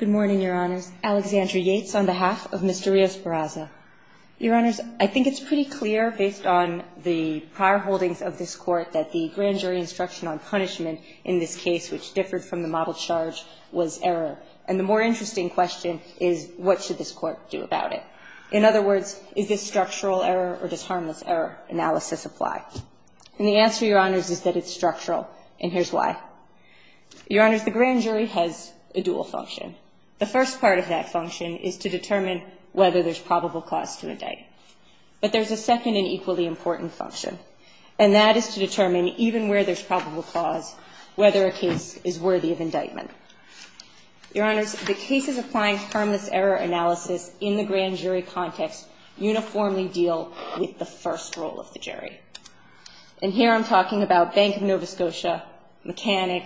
on behalf of Mr. Rios-Barraza. Your Honors, I think it's pretty clear, based on the prior holdings of this Court, that the grand jury instruction on punishment in this case, which differed from the model charge, was error. And the more interesting question is, what should this Court do about it? In other words, is this structural error or does harmless error analysis apply? And the answer, Your Honors, is that it's structural, and here's why. Your Honors, the grand jury has a dual function. The grand jury has a dual function. The first part of that function is to determine whether there's probable cause to indict. But there's a second and equally important function, and that is to determine, even where there's probable cause, whether a case is worthy of indictment. Your Honors, the cases applying harmless error analysis in the grand jury context uniformly deal with the first role of the jury. And here I'm talking about Bank of Nova Scotia, mechanic,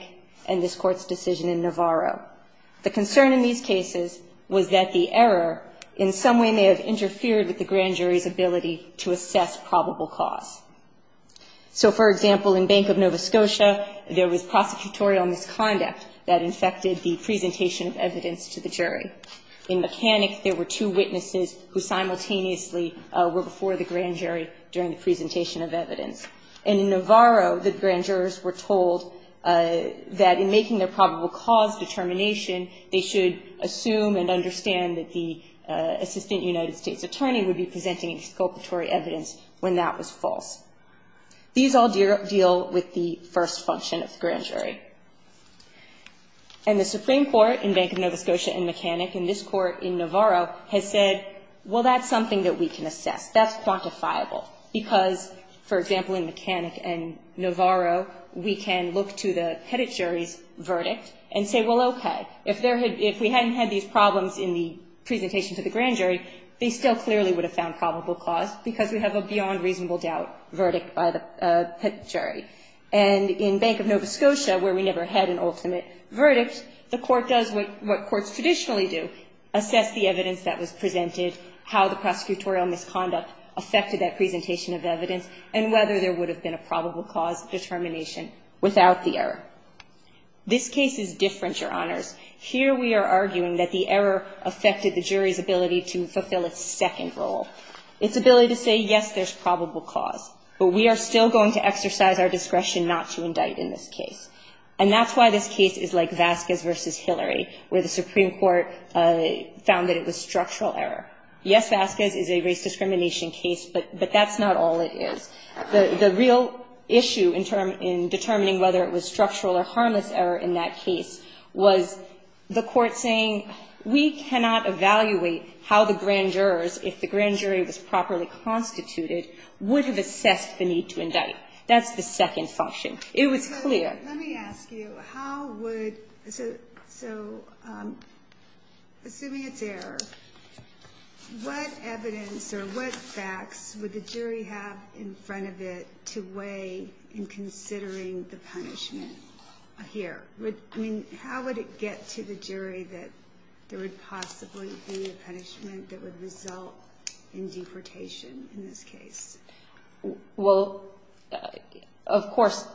and this Court's decision in Navarro. The concern in these cases was that the error in some way may have interfered with the grand jury's ability to assess probable cause. So, for example, in Bank of Nova Scotia, there was prosecutorial misconduct that infected the presentation of evidence to the jury. In mechanic, there were two witnesses who simultaneously were before the grand jury during the presentation of evidence. In Navarro, the grand jurors were told that in making their probable cause determination, they should assume and understand that the assistant United States attorney would be presenting exculpatory evidence when that was false. These all deal with the first function of the grand jury. And the Supreme Court in Bank of Nova Scotia and mechanic and this Court in Navarro has said, well, that's something that we can assess. That's quantifiable. Because, for example, in mechanic and Navarro, we can look to the pettit jury's verdict and say, well, okay, if there had been, if we hadn't had these problems in the presentation to the grand jury, they still clearly would have found probable cause because we have a beyond reasonable doubt verdict by the pettit jury. And in Bank of Nova Scotia, where we never had an ultimate verdict, the Court does what courts traditionally do, assess the evidence that was presented, how the prosecutorial misconduct affected that presentation of evidence, and whether there would have been a probable cause determination without the error. This case is different, Your Honors. Here we are arguing that the error affected the jury's ability to fulfill its second role, its ability to say, yes, there's probable cause. But we are still going to exercise our discretion not to indict in this case. And that's why this case is like Vasquez v. Hillary, where the Supreme Court found that it was structural error. Yes, Vasquez is a race discrimination case, but that's not all it is. The real issue in determining whether it was structural or harmless error in that case was the Court saying we cannot evaluate how the grand jurors, if the grand jury was properly constituted, would have assessed the need to indict. That's the second function. It was clear. Let me ask you, assuming it's error, what evidence or what facts would the jury have in front of it to weigh in considering the punishment here? How would it get to the jury that there would possibly be a punishment that would result in deportation in this case? Well, of course,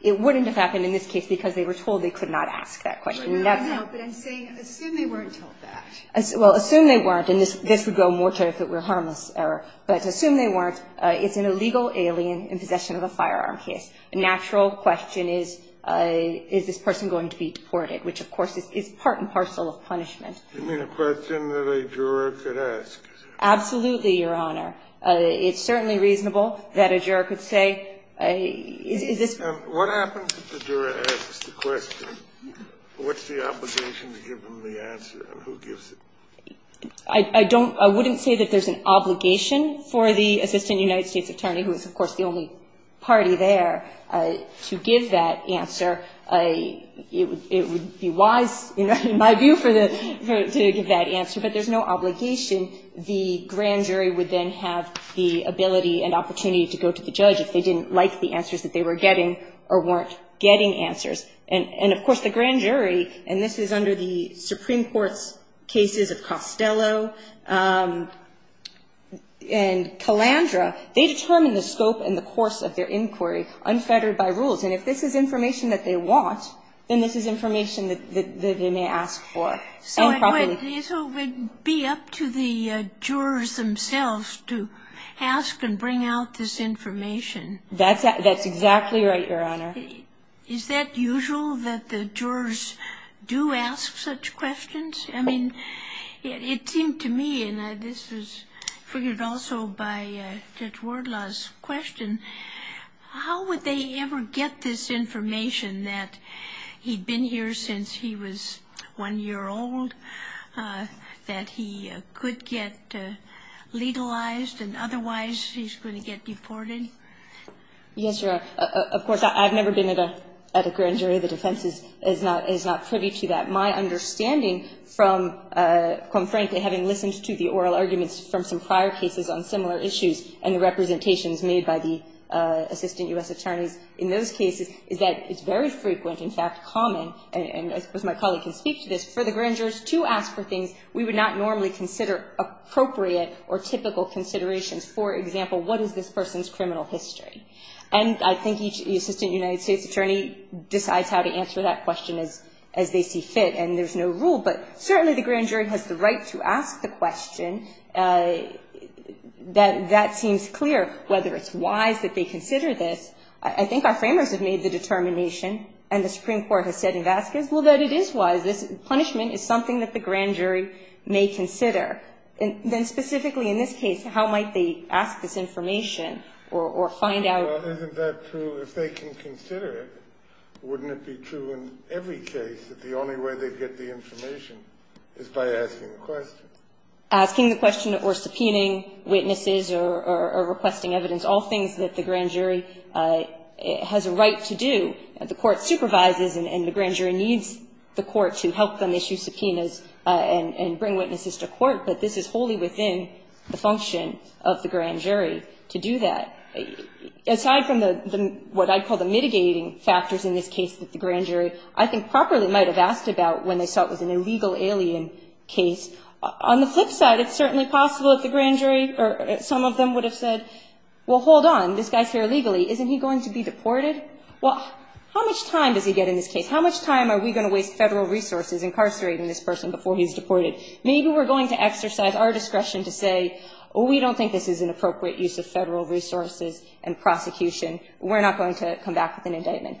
it wouldn't have happened in this case because they were told they could not ask that question. I know, but I'm saying assume they weren't told that. Well, assume they weren't, and this would go more to if it were harmless error. But assume they weren't, it's an illegal alien in possession of a firearm case. The natural question is, is this person going to be deported, which, of course, is part and parcel of punishment. You mean a question that a juror could ask? Absolutely, Your Honor. It's certainly reasonable that a juror could say, is this person going to be deported? What happens if the juror asks the question? What's the obligation to give them the answer, and who gives it? I don't – I wouldn't say that there's an obligation for the assistant United States attorney, who is, of course, the only party there, to give that answer. It would be wise, in my view, to give that answer, but there's no obligation. The grand jury would then have the ability and opportunity to go to the judge if they didn't like the answers that they were getting or weren't getting answers. And, of course, the grand jury, and this is under the Supreme Court's cases of Costello and Calandra, they determine the scope and the course of their inquiry, unfettered by rules. And if this is information that they want, then this is information that they may ask for. So it would be up to the jurors themselves to ask and bring out this information? That's exactly right, Your Honor. Is that usual that the jurors do ask such questions? I mean, it seemed to me, and this was figured also by Judge Wardlaw's question, how would they ever get this information that he'd been here since he was one year old, that he could get legalized and otherwise he's going to get deported? Yes, Your Honor. Of course, I've never been at a grand jury. The defense is not privy to that. My understanding from, quite frankly, having listened to the oral arguments from some prior cases on similar issues and the representations made by the Assistant U.S. Attorneys in those cases, is that it's very frequent, in fact common, and I suppose my colleague can speak to this, for the grand jurors to ask for things we would not normally consider appropriate or typical considerations. For example, what is this person's criminal history? And I think each Assistant United States Attorney decides how to answer that question as they see fit, and there's no rule. But certainly the grand jury has the right to ask the question. That seems clear, whether it's wise that they consider this. I think our framers have made the determination, and the Supreme Court has said in Vasquez, well, that it is wise. This punishment is something that the grand jury may consider. Then specifically in this case, how might they ask this information or find out? Well, isn't that true? If they can consider it, wouldn't it be true in every case that the only way they'd get the information is by asking the question? Asking the question or subpoenaing witnesses or requesting evidence, all things that the grand jury has a right to do. The court supervises, and the grand jury needs the court to help them issue subpoenas and bring witnesses to court, but this is wholly within the function of the grand jury to do that. Aside from what I call the mitigating factors in this case that the grand jury I think properly might have asked about when they saw it was an illegal alien case, on the flip side, it's certainly possible that the grand jury or some of them would have said, well, hold on. This guy's here illegally. Isn't he going to be deported? Well, how much time does he get in this case? How much time are we going to waste Federal resources incarcerating this person before he's deported? Maybe we're going to exercise our discretion to say, oh, we don't think this is an illegal alien case. We're going to use Federal resources and prosecution. We're not going to come back with an indictment.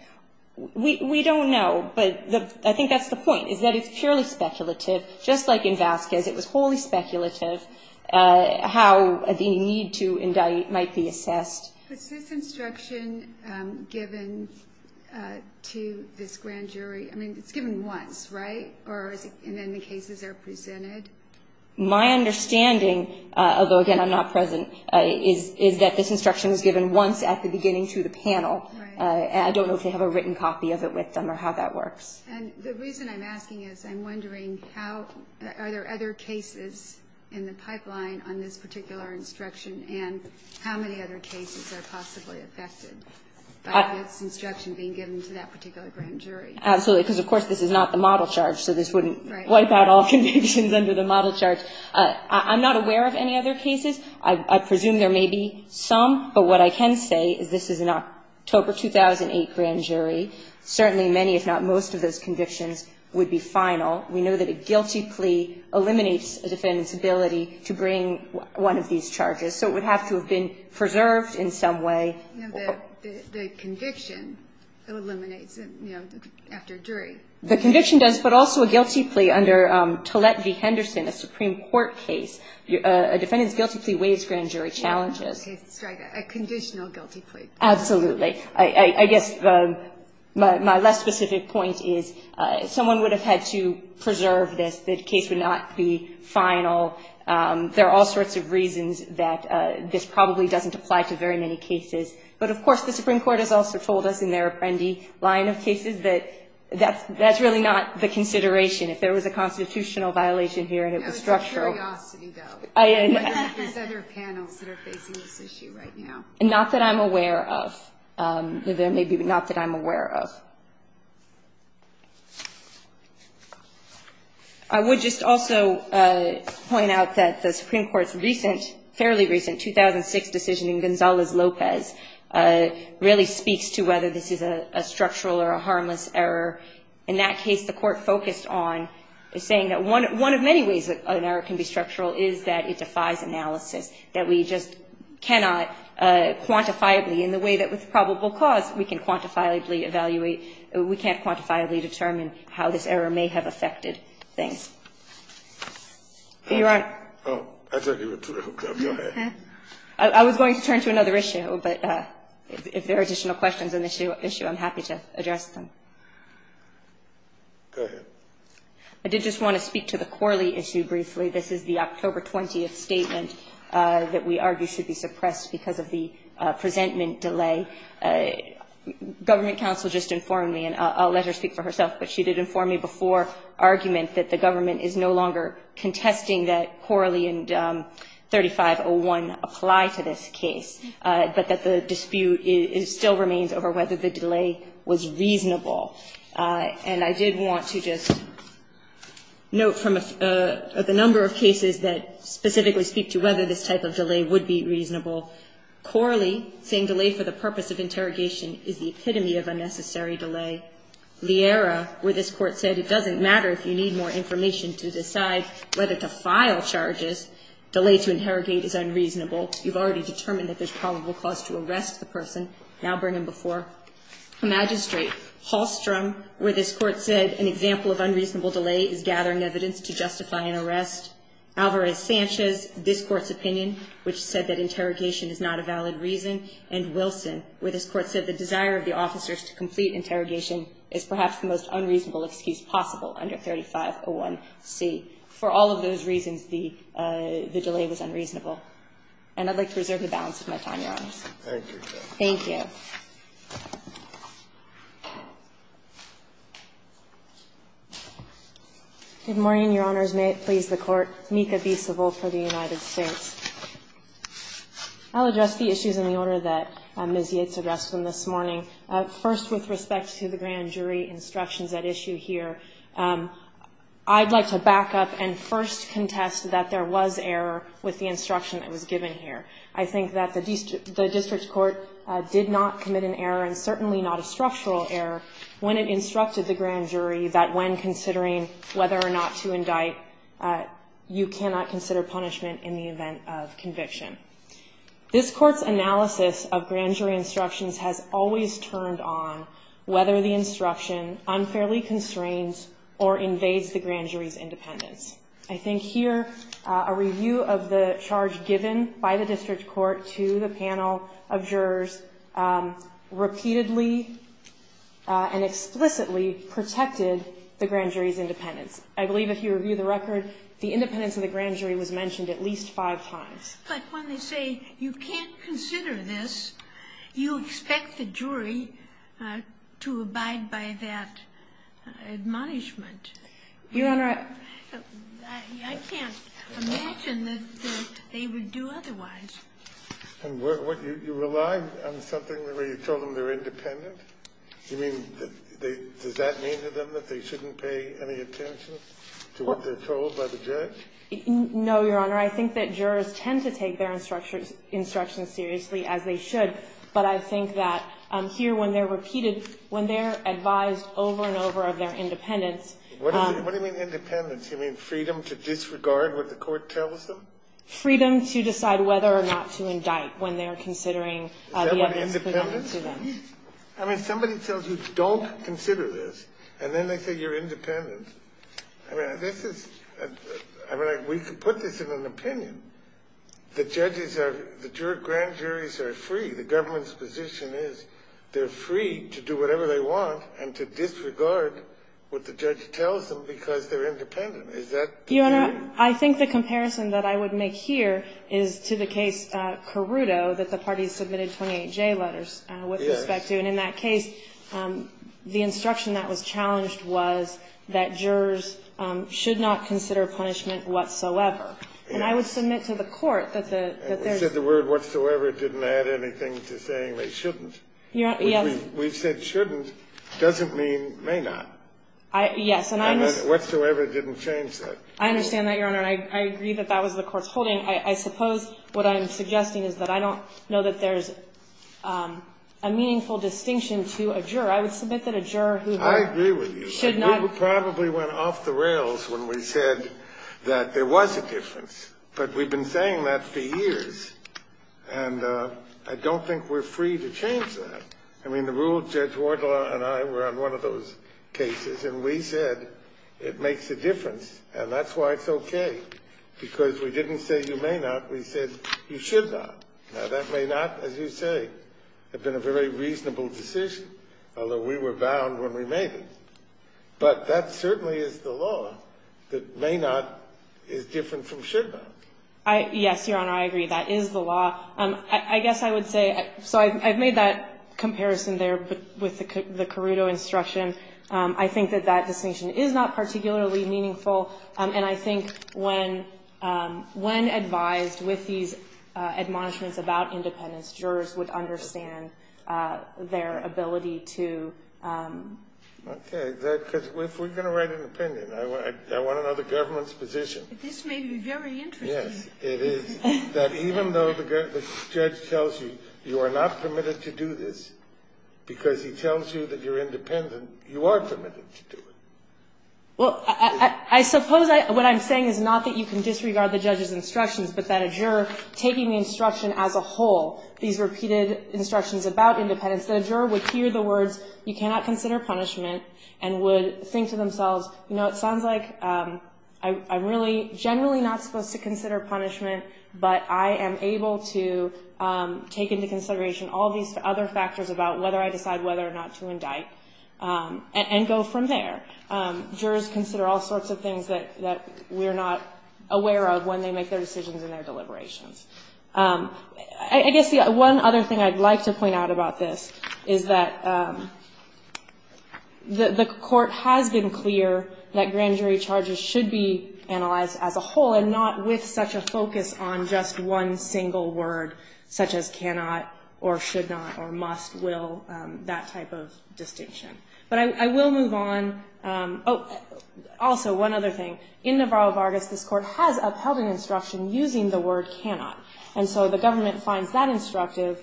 We don't know, but I think that's the point, is that it's purely speculative. Just like in Vasquez, it was wholly speculative how the need to indict might be assessed. Was this instruction given to this grand jury? I mean, it's given once, right? And then the cases are presented? My understanding, although, again, I'm not present, is that this instruction was given once at the beginning to the panel. Right. And I don't know if they have a written copy of it with them or how that works. And the reason I'm asking is I'm wondering how are there other cases in the pipeline on this particular instruction and how many other cases are possibly affected by this instruction being given to that particular grand jury? Absolutely, because, of course, this is not the model charge, so this wouldn't wipe out all convictions under the model charge. I'm not aware of any other cases. I presume there may be some, but what I can say is this is an October 2008 grand jury. Certainly many, if not most, of those convictions would be final. We know that a guilty plea eliminates a defendant's ability to bring one of these charges, so it would have to have been preserved in some way. The conviction eliminates it, you know, after a jury. The conviction does, but also a guilty plea under Tollett v. Henderson, a Supreme Court case. A defendant's guilty plea weighs grand jury challenges. A conditional guilty plea. Absolutely. I guess my less specific point is someone would have had to preserve this, the case would not be final. There are all sorts of reasons that this probably doesn't apply to very many cases. But, of course, the Supreme Court has also told us in their Apprendi line of That's really not the consideration. If there was a constitutional violation here and it was structural. There's other panels that are facing this issue right now. Not that I'm aware of. There may be, but not that I'm aware of. I would just also point out that the Supreme Court's recent, fairly recent 2006 decision in Gonzalez-Lopez really speaks to whether this is a structural or a non-structural error. In that case, the court focused on saying that one of many ways an error can be structural is that it defies analysis. That we just cannot quantifiably, in the way that with probable cause we can quantifiably evaluate, we can't quantifiably determine how this error may have affected things. Your Honor. Oh, I thought you were going to hook up. Go ahead. I was going to turn to another issue, but if there are additional questions on I did just want to speak to the Corley issue briefly. This is the October 20th statement that we argue should be suppressed because of the presentment delay. Government counsel just informed me, and I'll let her speak for herself, but she did inform me before argument that the government is no longer contesting that Corley and 3501 apply to this case, but that the dispute is still remains over whether the delay was reasonable. And I did want to just note from the number of cases that specifically speak to whether this type of delay would be reasonable. Corley, saying delay for the purpose of interrogation is the epitome of unnecessary delay. Liera, where this Court said it doesn't matter if you need more information to decide whether to file charges, delay to interrogate is unreasonable. You've already determined that there's probable cause to arrest the person. Now bring him before a magistrate. Hallstrom, where this Court said an example of unreasonable delay is gathering evidence to justify an arrest. Alvarez-Sanchez, this Court's opinion, which said that interrogation is not a valid reason, and Wilson, where this Court said the desire of the officers to complete interrogation is perhaps the most unreasonable excuse possible under 3501C. For all of those reasons, the delay was unreasonable. And I'd like to reserve the balance of my time, Your Honors. Thank you. Thank you. Good morning, Your Honors. May it please the Court. Mika B. Seville for the United States. I'll address the issues in the order that Ms. Yates addressed them this morning. First, with respect to the grand jury instructions at issue here, I'd like to back up and first contest that there was error with the instruction that was given here. I think that the district court did not commit an error, and certainly not a structural error, when it instructed the grand jury that when considering whether or not to indict, you cannot consider punishment in the event of conviction. This Court's analysis of grand jury instructions has always turned on whether the instruction unfairly constrains or invades the grand jury's independence. I think here a review of the charge given by the district court to the panel of jurors repeatedly and explicitly protected the grand jury's independence. I believe if you review the record, the independence of the grand jury was mentioned at least five times. But when they say you can't consider this, you expect the jury to abide by that admonishment. I can't imagine that they would do otherwise. And you rely on something where you told them they're independent? You mean, does that mean to them that they shouldn't pay any attention to what they're told by the judge? No, Your Honor. I think that jurors tend to take their instructions seriously, as they should. But I think that here when they're repeated, when they're advised over and over of their independence. What do you mean independence? You mean freedom to disregard what the court tells them? Freedom to decide whether or not to indict when they're considering the evidence presented to them. Is that what independence is? I mean, somebody tells you don't consider this, and then they say you're independent. I mean, this is – I mean, we could put this in an opinion. The judges are – the grand juries are free. The government's position is they're free to do whatever they want and to disregard what the judge tells them because they're independent. Is that the case? Your Honor, I think the comparison that I would make here is to the case Carruto that the parties submitted 28J letters with respect to. And in that case, the instruction that was challenged was that jurors should not consider And I would submit to the court that there's – You said the word whatsoever didn't add anything to saying they shouldn't. Yes. Which we've said shouldn't doesn't mean may not. Yes. And I'm – And whatsoever didn't change that. I understand that, Your Honor. And I agree that that was the court's holding. I suppose what I'm suggesting is that I don't know that there's a meaningful distinction to a juror. I would submit that a juror who – I agree with you. Should not – We probably went off the rails when we said that there was a difference. But we've been saying that for years. And I don't think we're free to change that. I mean, the rule, Judge Wardlaw and I were on one of those cases. And we said it makes a difference. And that's why it's okay. Because we didn't say you may not. We said you should not. Now, that may not, as you say, have been a very reasonable decision. Although we were bound when we made it. But that certainly is the law that may not is different from should not. Yes, Your Honor. I agree. That is the law. I guess I would say – So I've made that comparison there with the Carruto instruction. I think that that distinction is not particularly meaningful. And I think when advised with these admonishments about independence, jurors would understand their ability to – Okay. Because if we're going to write an opinion, I want to know the government's position. This may be very interesting. Yes. It is that even though the judge tells you you are not permitted to do this because he tells you that you're independent, you are permitted to do it. Well, I suppose what I'm saying is not that you can disregard the judge's instructions, but that a juror taking the instruction as a whole, these repeated the words, you cannot consider punishment, and would think to themselves, you know, it sounds like I'm really generally not supposed to consider punishment, but I am able to take into consideration all these other factors about whether I decide whether or not to indict and go from there. Jurors consider all sorts of things that we're not aware of when they make their decisions and their deliberations. I guess one other thing I'd like to point out about this is that the court has been clear that grand jury charges should be analyzed as a whole and not with such a focus on just one single word such as cannot or should not or must, will, that type of distinction. But I will move on. Also, one other thing. In Navarro-Vargas, this court has upheld an instruction using the word cannot. And so the government finds that instructive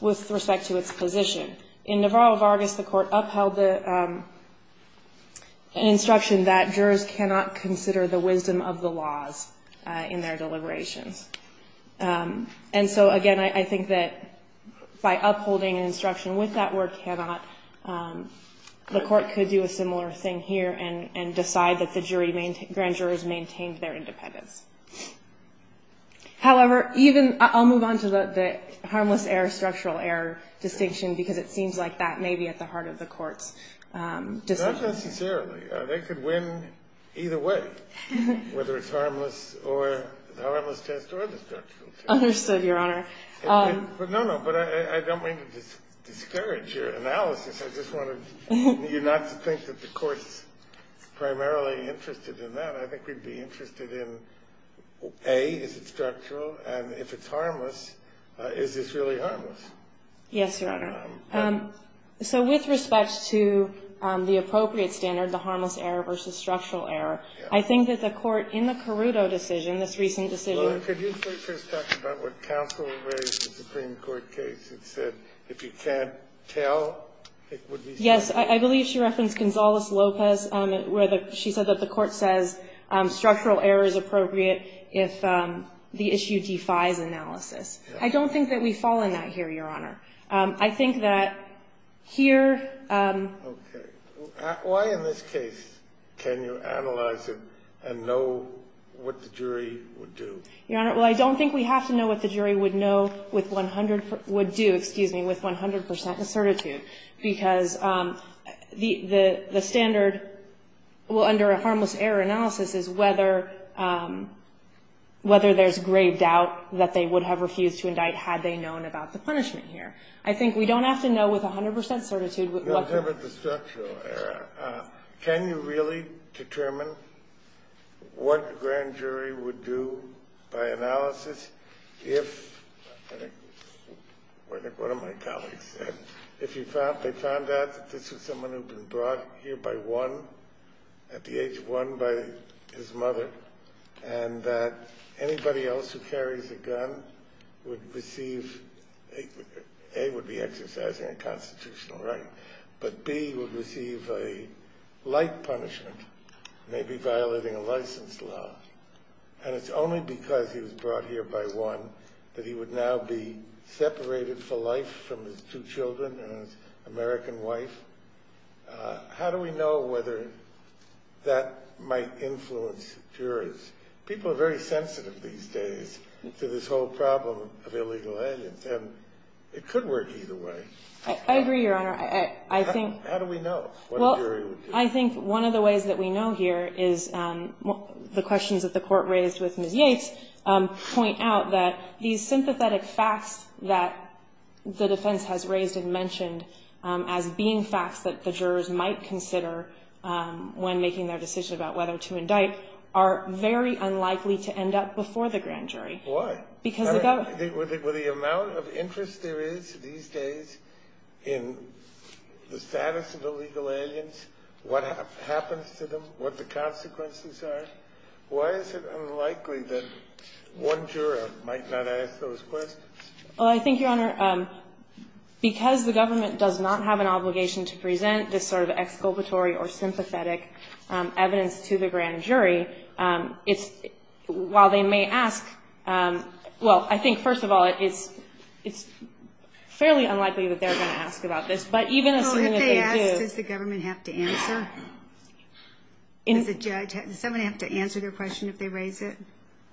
with respect to its position. In Navarro-Vargas, the court upheld an instruction that jurors cannot consider the wisdom of the laws in their deliberations. And so, again, I think that by upholding an instruction with that word cannot, the grand jurors maintained their independence. However, even, I'll move on to the harmless error, structural error distinction because it seems like that may be at the heart of the court's decision. Not necessarily. They could win either way, whether it's harmless or, the harmless test or the structural test. Understood, Your Honor. No, no, but I don't mean to discourage your analysis. I just wanted you not to think that the court's primarily interested in that. I think we'd be interested in, A, is it structural? And if it's harmless, is this really harmless? Yes, Your Honor. So with respect to the appropriate standard, the harmless error versus structural error, I think that the court in the Caruto decision, this recent decision Well, could you first talk about what counsel raised in the Supreme Court case. It said if you can't tell, it would be Yes. I believe she referenced Gonzales-Lopez where she said that the court says structural error is appropriate if the issue defies analysis. I don't think that we fall in that here, Your Honor. I think that here Okay. Why in this case can you analyze it and know what the jury would do? Your Honor, well, I don't think we have to know what the jury would know with 100 would do, excuse me, with 100% certitude, because the standard, well, under a harmless error analysis is whether there's grave doubt that they would have refused to indict had they known about the punishment here. I think we don't have to know with 100% certitude what In terms of the structural error, can you really determine what the grand jury would do by analysis if, one of my colleagues said, if they found out that this was someone who had been brought here by one, at the age of one by his mother, and that anybody else who carries a gun would receive, A, would be exercising a constitutional right, but B, would receive a light punishment, maybe violating a license law, and it's only because he was brought here by one that he would now be separated for life from his two children and his American wife? How do we know whether that might influence jurors? People are very sensitive these days to this whole problem of illegal aliens, and it could work either way. I agree, Your Honor. I think How do we know what a jury would do? Well, I think one of the ways that we know here is the questions that the Court raised with Ms. Yates point out that these sympathetic facts that the defense has raised and mentioned as being facts that the jurors might consider when making their decision about whether to indict are very unlikely to end up before the grand jury. Why? Because the government has a responsibility to determine in the status of illegal aliens what happens to them, what the consequences are. Why is it unlikely that one juror might not ask those questions? Well, I think, Your Honor, because the government does not have an obligation to present this sort of exculpatory or sympathetic evidence to the grand jury, it's – while they may ask – well, I think, first of all, it's fairly unlikely that they're going to ask about this. But even assuming that they do – Well, if they ask, does the government have to answer? Does the judge – does someone have to answer their question if they raise it?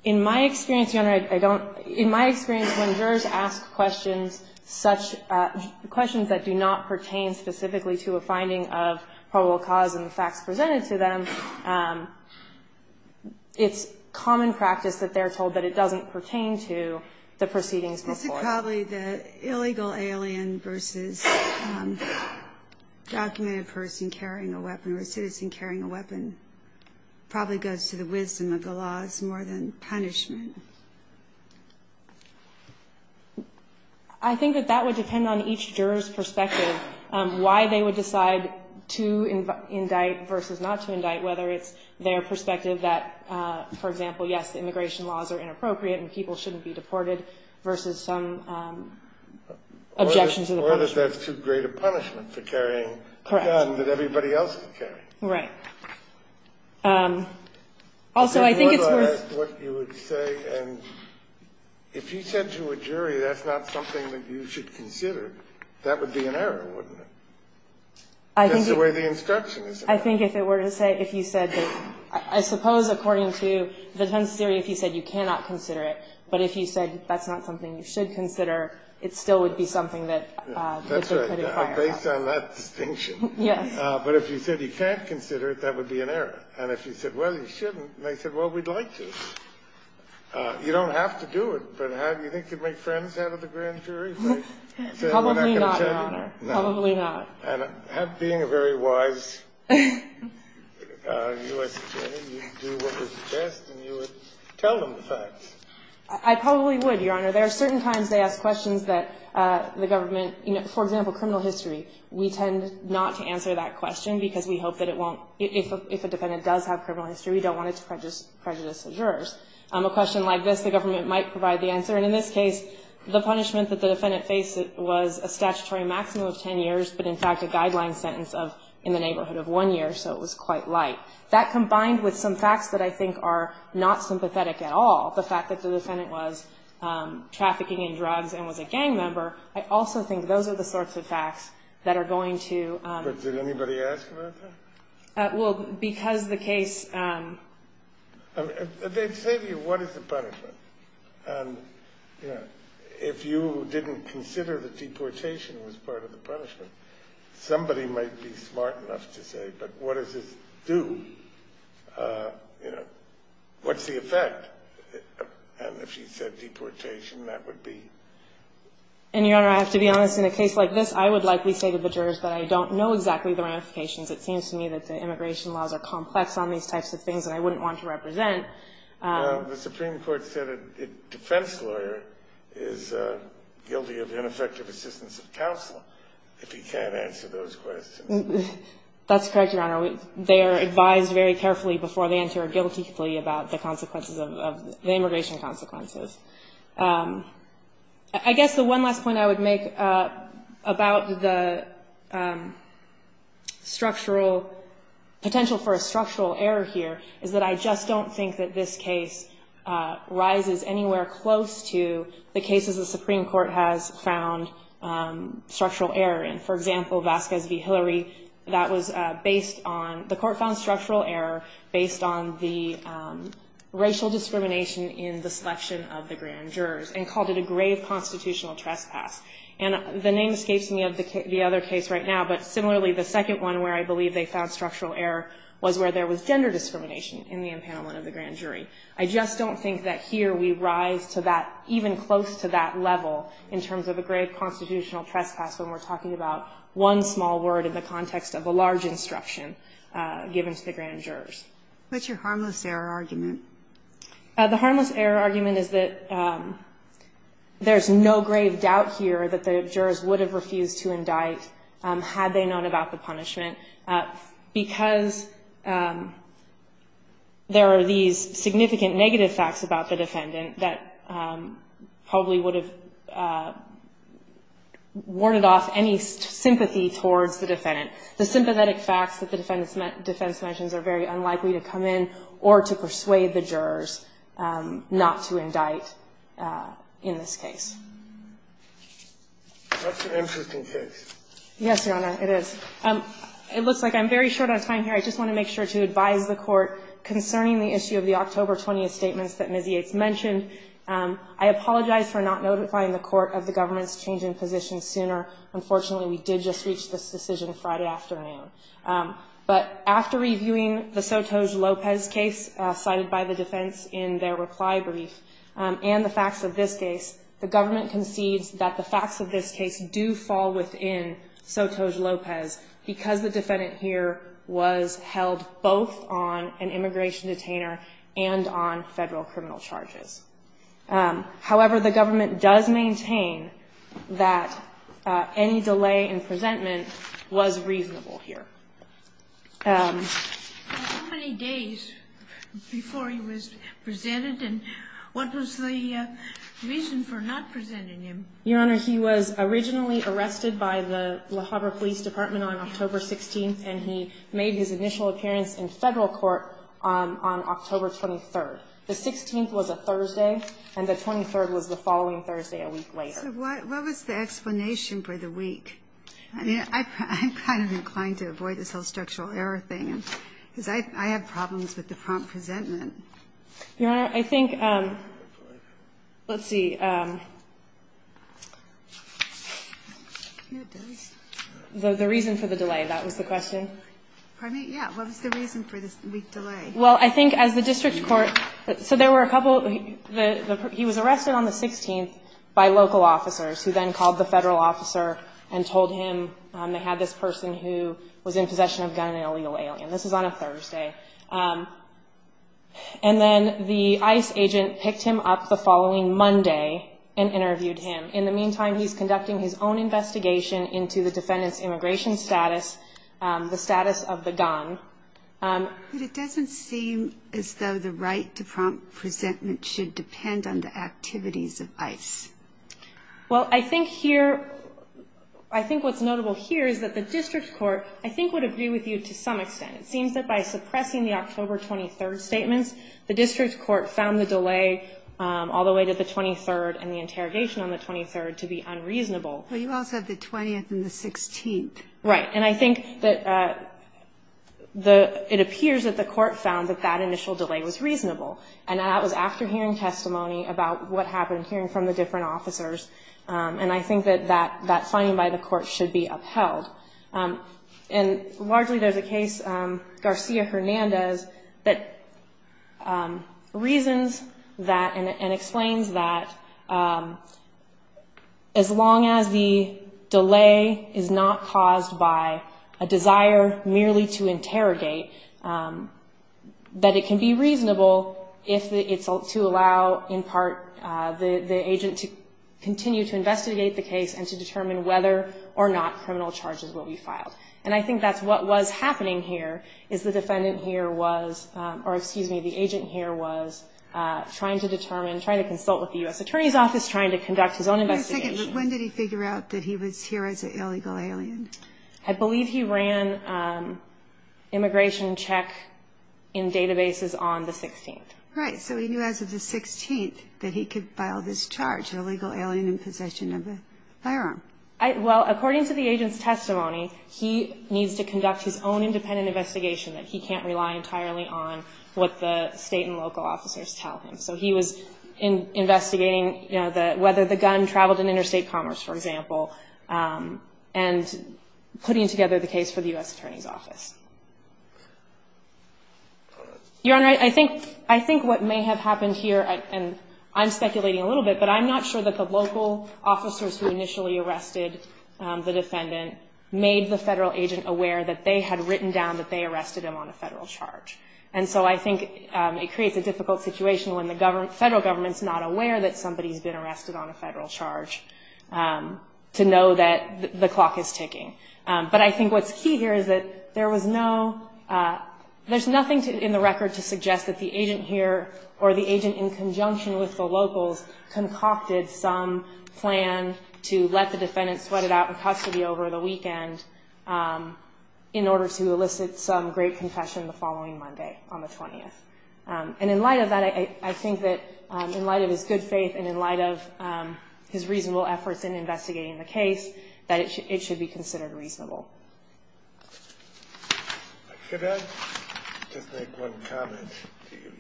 In my experience, Your Honor, I don't – in my experience, when jurors ask questions such – questions that do not pertain specifically to a finding of probable cause in the facts presented to them, it's common practice that they're told that it doesn't pertain to the proceedings before. This is probably the illegal alien versus documented person carrying a weapon or a citizen carrying a weapon probably goes to the wisdom of the laws more than punishment. I think that that would depend on each juror's perspective, why they would decide to indict versus not to indict, whether it's their perspective that, for example, yes, the immigration laws are inappropriate and people shouldn't be deported versus some objection to the punishment. Or that that's too great a punishment for carrying a gun that everybody else is carrying. Right. Also, I think it's worth – But if you were to ask what you would say and if you said to a jury that's not something that you should consider, that would be an error, wouldn't it? That's the way the instruction is. I think if it were to say – if you said that – I suppose according to the defense theory, if you said you cannot consider it, but if you said that's not something you should consider, it still would be something that – That's right. Based on that distinction. Yes. But if you said you can't consider it, that would be an error. And if you said, well, you shouldn't, and they said, well, we'd like to, you don't have to do it, but how do you think you'd make friends out of the grand jury? Probably not, Your Honor. Probably not. And being a very wise U.S. attorney, you'd do what was best and you would tell them the facts. I probably would, Your Honor. There are certain times they ask questions that the government – for example, criminal history. We tend not to answer that question because we hope that it won't – if a defendant does have criminal history, we don't want it to prejudice the jurors. A question like this, the government might provide the answer. And in this case, the punishment that the defendant faced was a statutory maximum of 10 years, but in fact a guideline sentence of in the neighborhood of one year, so it was quite light. That combined with some facts that I think are not sympathetic at all, the fact that the defendant was trafficking in drugs and was a gang member, I also think those are the sorts of facts that are going to – But did anybody ask about that? Well, because the case – They'd say to you, what is the punishment? And, you know, if you didn't consider that deportation was part of the punishment, somebody might be smart enough to say, but what does this do? You know, what's the effect? And if you said deportation, that would be? And, Your Honor, I have to be honest. In a case like this, I would likely say to the jurors that I don't know exactly the ramifications. It seems to me that the immigration laws are complex on these types of things that I wouldn't want to represent. The Supreme Court said a defense lawyer is guilty of ineffective assistance of counsel if he can't answer those questions. That's correct, Your Honor. They are advised very carefully before they answer guiltily about the consequences of – the immigration consequences. I guess the one last point I would make about the structural – that this case rises anywhere close to the cases the Supreme Court has found structural error in. For example, Vasquez v. Hillary, that was based on – the court found structural error based on the racial discrimination in the selection of the grand jurors and called it a grave constitutional trespass. And the name escapes me of the other case right now, but similarly, the second one where I believe they found structural error was where there was I just don't think that here we rise to that – even close to that level in terms of a grave constitutional trespass when we're talking about one small word in the context of a large instruction given to the grand jurors. What's your harmless error argument? The harmless error argument is that there's no grave doubt here that the jurors would have refused to indict had they known about the punishment. Because there are these significant negative facts about the defendant that probably would have warded off any sympathy towards the defendant. The sympathetic facts that the defense mentions are very unlikely to come in or to persuade the jurors not to indict in this case. That's an interesting case. Yes, Your Honor, it is. It looks like I'm very short on time here. I just want to make sure to advise the Court concerning the issue of the October 20th statements that Ms. Yates mentioned. I apologize for not notifying the Court of the government's changing position sooner. Unfortunately, we did just reach this decision Friday afternoon. But after reviewing the Sotos-Lopez case cited by the defense in their reply brief and the facts of this case, the government concedes that the facts of this case do fall within Sotos-Lopez because the defendant here was held both on an immigration detainer and on Federal criminal charges. However, the government does maintain that any delay in presentment was reasonable here. How many days before he was presented and what was the reason for not presenting him? Your Honor, he was originally arrested by the La Habra Police Department on October 16th, and he made his initial appearance in Federal court on October 23rd. The 16th was a Thursday, and the 23rd was the following Thursday a week later. So what was the explanation for the week? I mean, I'm kind of inclined to avoid this whole structural error thing, because I have problems with the prompt presentment. Your Honor, I think, let's see. The reason for the delay, that was the question. Pardon me? Yeah. What was the reason for this week's delay? Well, I think as the district court – so there were a couple – he was arrested on the 16th by local officers who then called the Federal officer and told him they had this person who was in possession of a gun and an illegal alien. This was on a Thursday. And then the ICE agent picked him up the following Monday and interviewed him. In the meantime, he's conducting his own investigation into the defendant's immigration status, the status of the gun. But it doesn't seem as though the right to prompt presentment should depend on the activities of ICE. Well, I think here – I think what's notable here is that the district court, I think, would agree with you to some extent. It seems that by suppressing the October 23rd statements, the district court found the delay all the way to the 23rd and the interrogation on the 23rd to be unreasonable. Well, you also have the 20th and the 16th. Right. And I think that the – it appears that the court found that that initial delay was reasonable. And that was after hearing testimony about what happened, hearing from the different officers. And I think that that finding by the court should be upheld. And largely, there's a case, Garcia-Hernandez, that reasons that and explains that as long as the delay is not caused by a desire merely to interrogate, that it can be reasonable if it's to allow, in part, the agent to continue to investigate the case and to determine whether or not criminal charges will be filed. And I think that's what was happening here, is the defendant here was – or, excuse me, the agent here was trying to determine, trying to consult with the U.S. Attorney's Office, trying to conduct his own investigation. Wait a second. When did he figure out that he was here as an illegal alien? I believe he ran immigration check in databases on the 16th. Right. So he knew as of the 16th that he could file this charge, illegal alien in the U.S. Attorney's Office. Firearm. Well, according to the agent's testimony, he needs to conduct his own independent investigation, that he can't rely entirely on what the state and local officers tell him. So he was investigating, you know, whether the gun traveled in interstate commerce, for example, and putting together the case for the U.S. Attorney's Office. Your Honor, I think what may have happened here, and I'm speculating a little bit, but I'm not sure that the local officers who initially arrested the defendant made the federal agent aware that they had written down that they arrested him on a federal charge. And so I think it creates a difficult situation when the federal government's not aware that somebody's been arrested on a federal charge to know that the clock is ticking. But I think what's key here is that there was no – there's nothing in the record to suggest that the agent here or the agent in conjunction with the defendant had concocted some plan to let the defendant sweat it out in custody over the weekend in order to elicit some great confession the following Monday on the 20th. And in light of that, I think that in light of his good faith and in light of his reasonable efforts in investigating the case, that it should be considered reasonable. Could I just make one comment?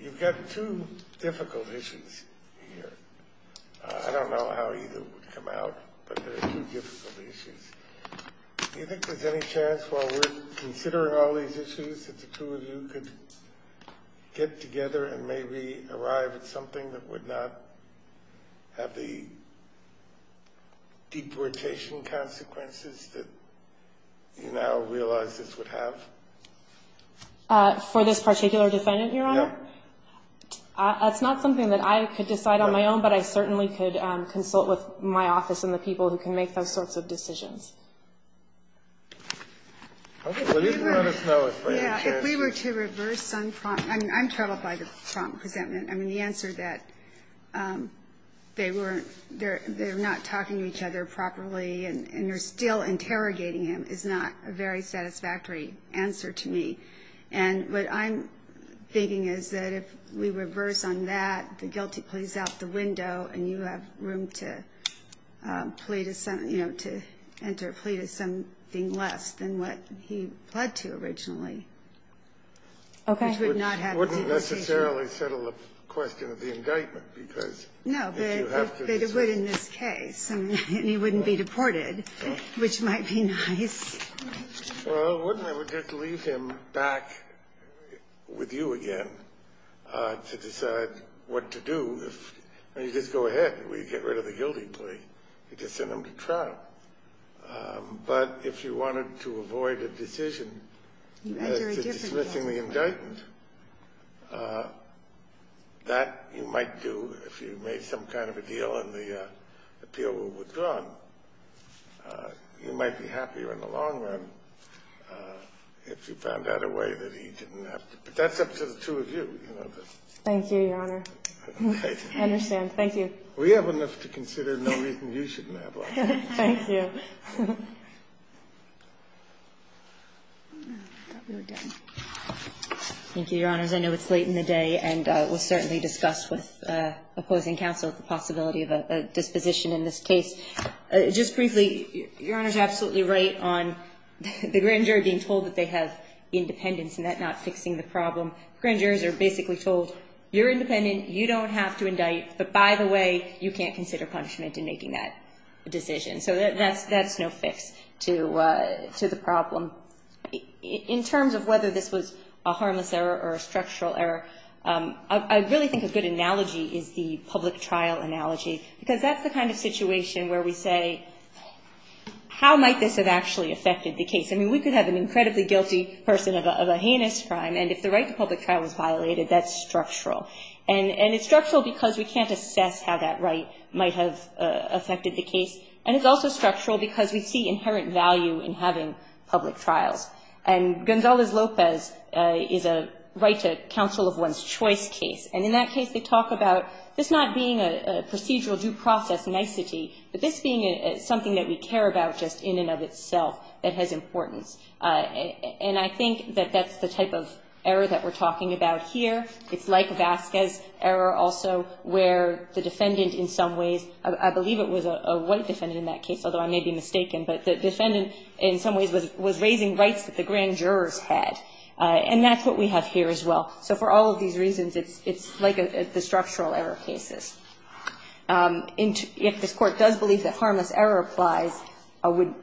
You've got two difficult issues here. I don't know how either would come out, but they're two difficult issues. Do you think there's any chance while we're considering all these issues that the two of you could get together and maybe arrive at something that would not have the deportation consequences that you now realize this would have? For this particular defendant, Your Honor? Yeah. That's not something that I could decide on my own, but I certainly could consult with my office and the people who can make those sorts of decisions. Okay. Well, you can let us know if there's any chance. Yeah, if we were to reverse some – I mean, I'm troubled by the prompt resentment. I mean, the answer that they weren't – they're not talking to each other properly and they're still interrogating him is not a very satisfactory answer to me. And what I'm thinking is that if we reverse on that, the guilty plays out the window and you have room to plead – you know, to enter a plea to something less than what he pled to originally. Okay. I would not have to negotiate. It wouldn't necessarily settle the question of the indictment, because if you have to decide – No, but it would in this case, and he wouldn't be deported, which might be nice. Well, wouldn't it? It would just leave him back with you again to decide what to do if – I mean, you just go ahead. We get rid of the guilty play. You just send him to trial. But if you wanted to avoid a decision to dismissing the indictment, that you might do if you made some kind of a deal and the appeal were withdrawn. You might be happier in the long run if you found out a way that he didn't have to – but that's up to the two of you. Thank you, Your Honor. I understand. Thank you. We have enough to consider. No reason you shouldn't have one. Thank you. I thought we were done. Thank you, Your Honors. I know it's late in the day and was certainly discussed with opposing counsel the possibility of a disposition in this case. Just briefly, Your Honor is absolutely right on the grand juror being told that they have independence and that not fixing the problem. Grand jurors are basically told, you're independent, you don't have to indict, but by the way, you can't consider punishment in making that decision. So that's no fix to the problem. In terms of whether this was a harmless error or a structural error, I really think a good analogy is the public trial analogy, because that's the kind of situation where we say, how might this have actually affected the case? I mean, we could have an incredibly guilty person of a heinous crime, and if the right to public trial was violated, that's structural. And it's structural because we can't assess how that right might have affected the case, and it's also structural because we see inherent value in having public trials. And Gonzalez-Lopez is a right to counsel of one's choice case, and in that case they talk about this not being a procedural due process nicety, but this being something that we care about just in and of itself that has importance. And I think that that's the type of error that we're talking about here. It's like Vasquez error also, where the defendant in some ways, I believe it was a white defendant in that case, although I may be mistaken, but the defendant in some ways was raising rights that the grand jurors had. And that's what we have here as well. So for all of these reasons, it's like the structural error cases. If this Court does believe that harmless error applies, I would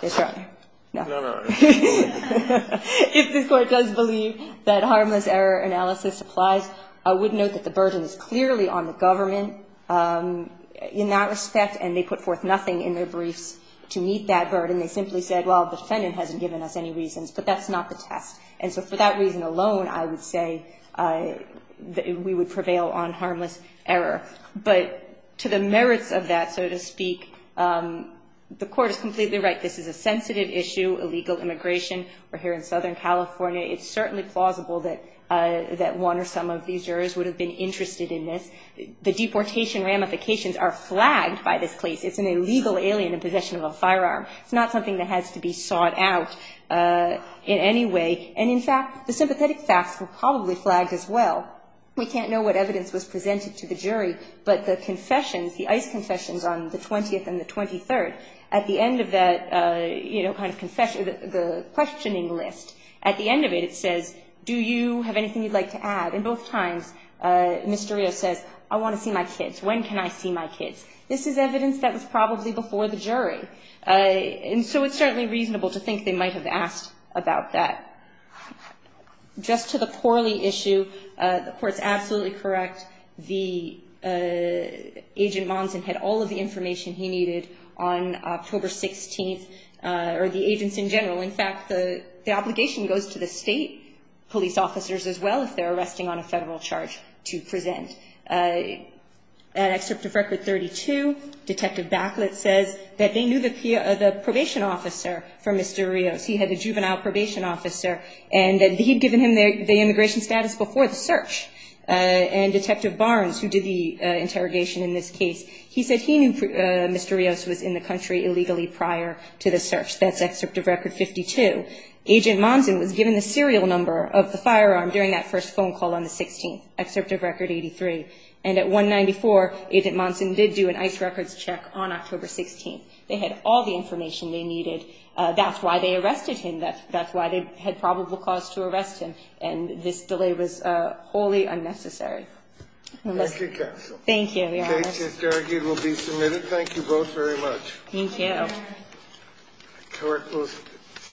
be strong. No. If this Court does believe that harmless error analysis applies, I would note that the burden is clearly on the government in that respect, and they put forth nothing in their briefs to meet that burden. They simply said, well, the defendant hasn't given us any reasons, but that's not the test. And so for that reason alone, I would say that we would prevail on harmless error. But to the merits of that, so to speak, the Court is completely right. This is a sensitive issue, illegal immigration. We're here in Southern California. It's certainly plausible that one or some of these jurors would have been interested in this. The deportation ramifications are flagged by this case. It's an illegal alien in possession of a firearm. It's not something that has to be sought out in any way. And, in fact, the sympathetic facts were probably flagged as well. We can't know what evidence was presented to the jury, but the confessions, the ICE confessions on the 20th and the 23rd, at the end of that, you know, kind of confession, the questioning list, at the end of it, it says, do you have anything you'd like to add? And both times, Mr. Rios says, I want to see my kids. When can I see my kids? This is evidence that was probably before the jury. And so it's certainly reasonable to think they might have asked about that. Just to the poorly issue, the Court's absolutely correct. The agent Monson had all of the information he needed on October 16th, or the agents in general. In fact, the obligation goes to the state police officers as well, if they're arresting on a federal charge, to present. At Excerpt of Record 32, Detective Backlett says that they knew the probation officer for Mr. Rios. He had the juvenile probation officer, and that he'd given him the immigration status before the search. And Detective Barnes, who did the interrogation in this case, he said he knew Mr. Rios was in the country illegally prior to the search. That's Excerpt of Record 52. Agent Monson was given the serial number of the firearm during that first phone call on the 16th, Excerpt of Record 83. And at 194, Agent Monson did do an ICE records check on October 16th. They had all the information they needed. That's why they arrested him. That's why they had probable cause to arrest him. And this delay was wholly unnecessary. Thank you, counsel. Thank you, Your Honor. The case is derogated and will be submitted. Thank you both very much. Thank you. Court is adjourned.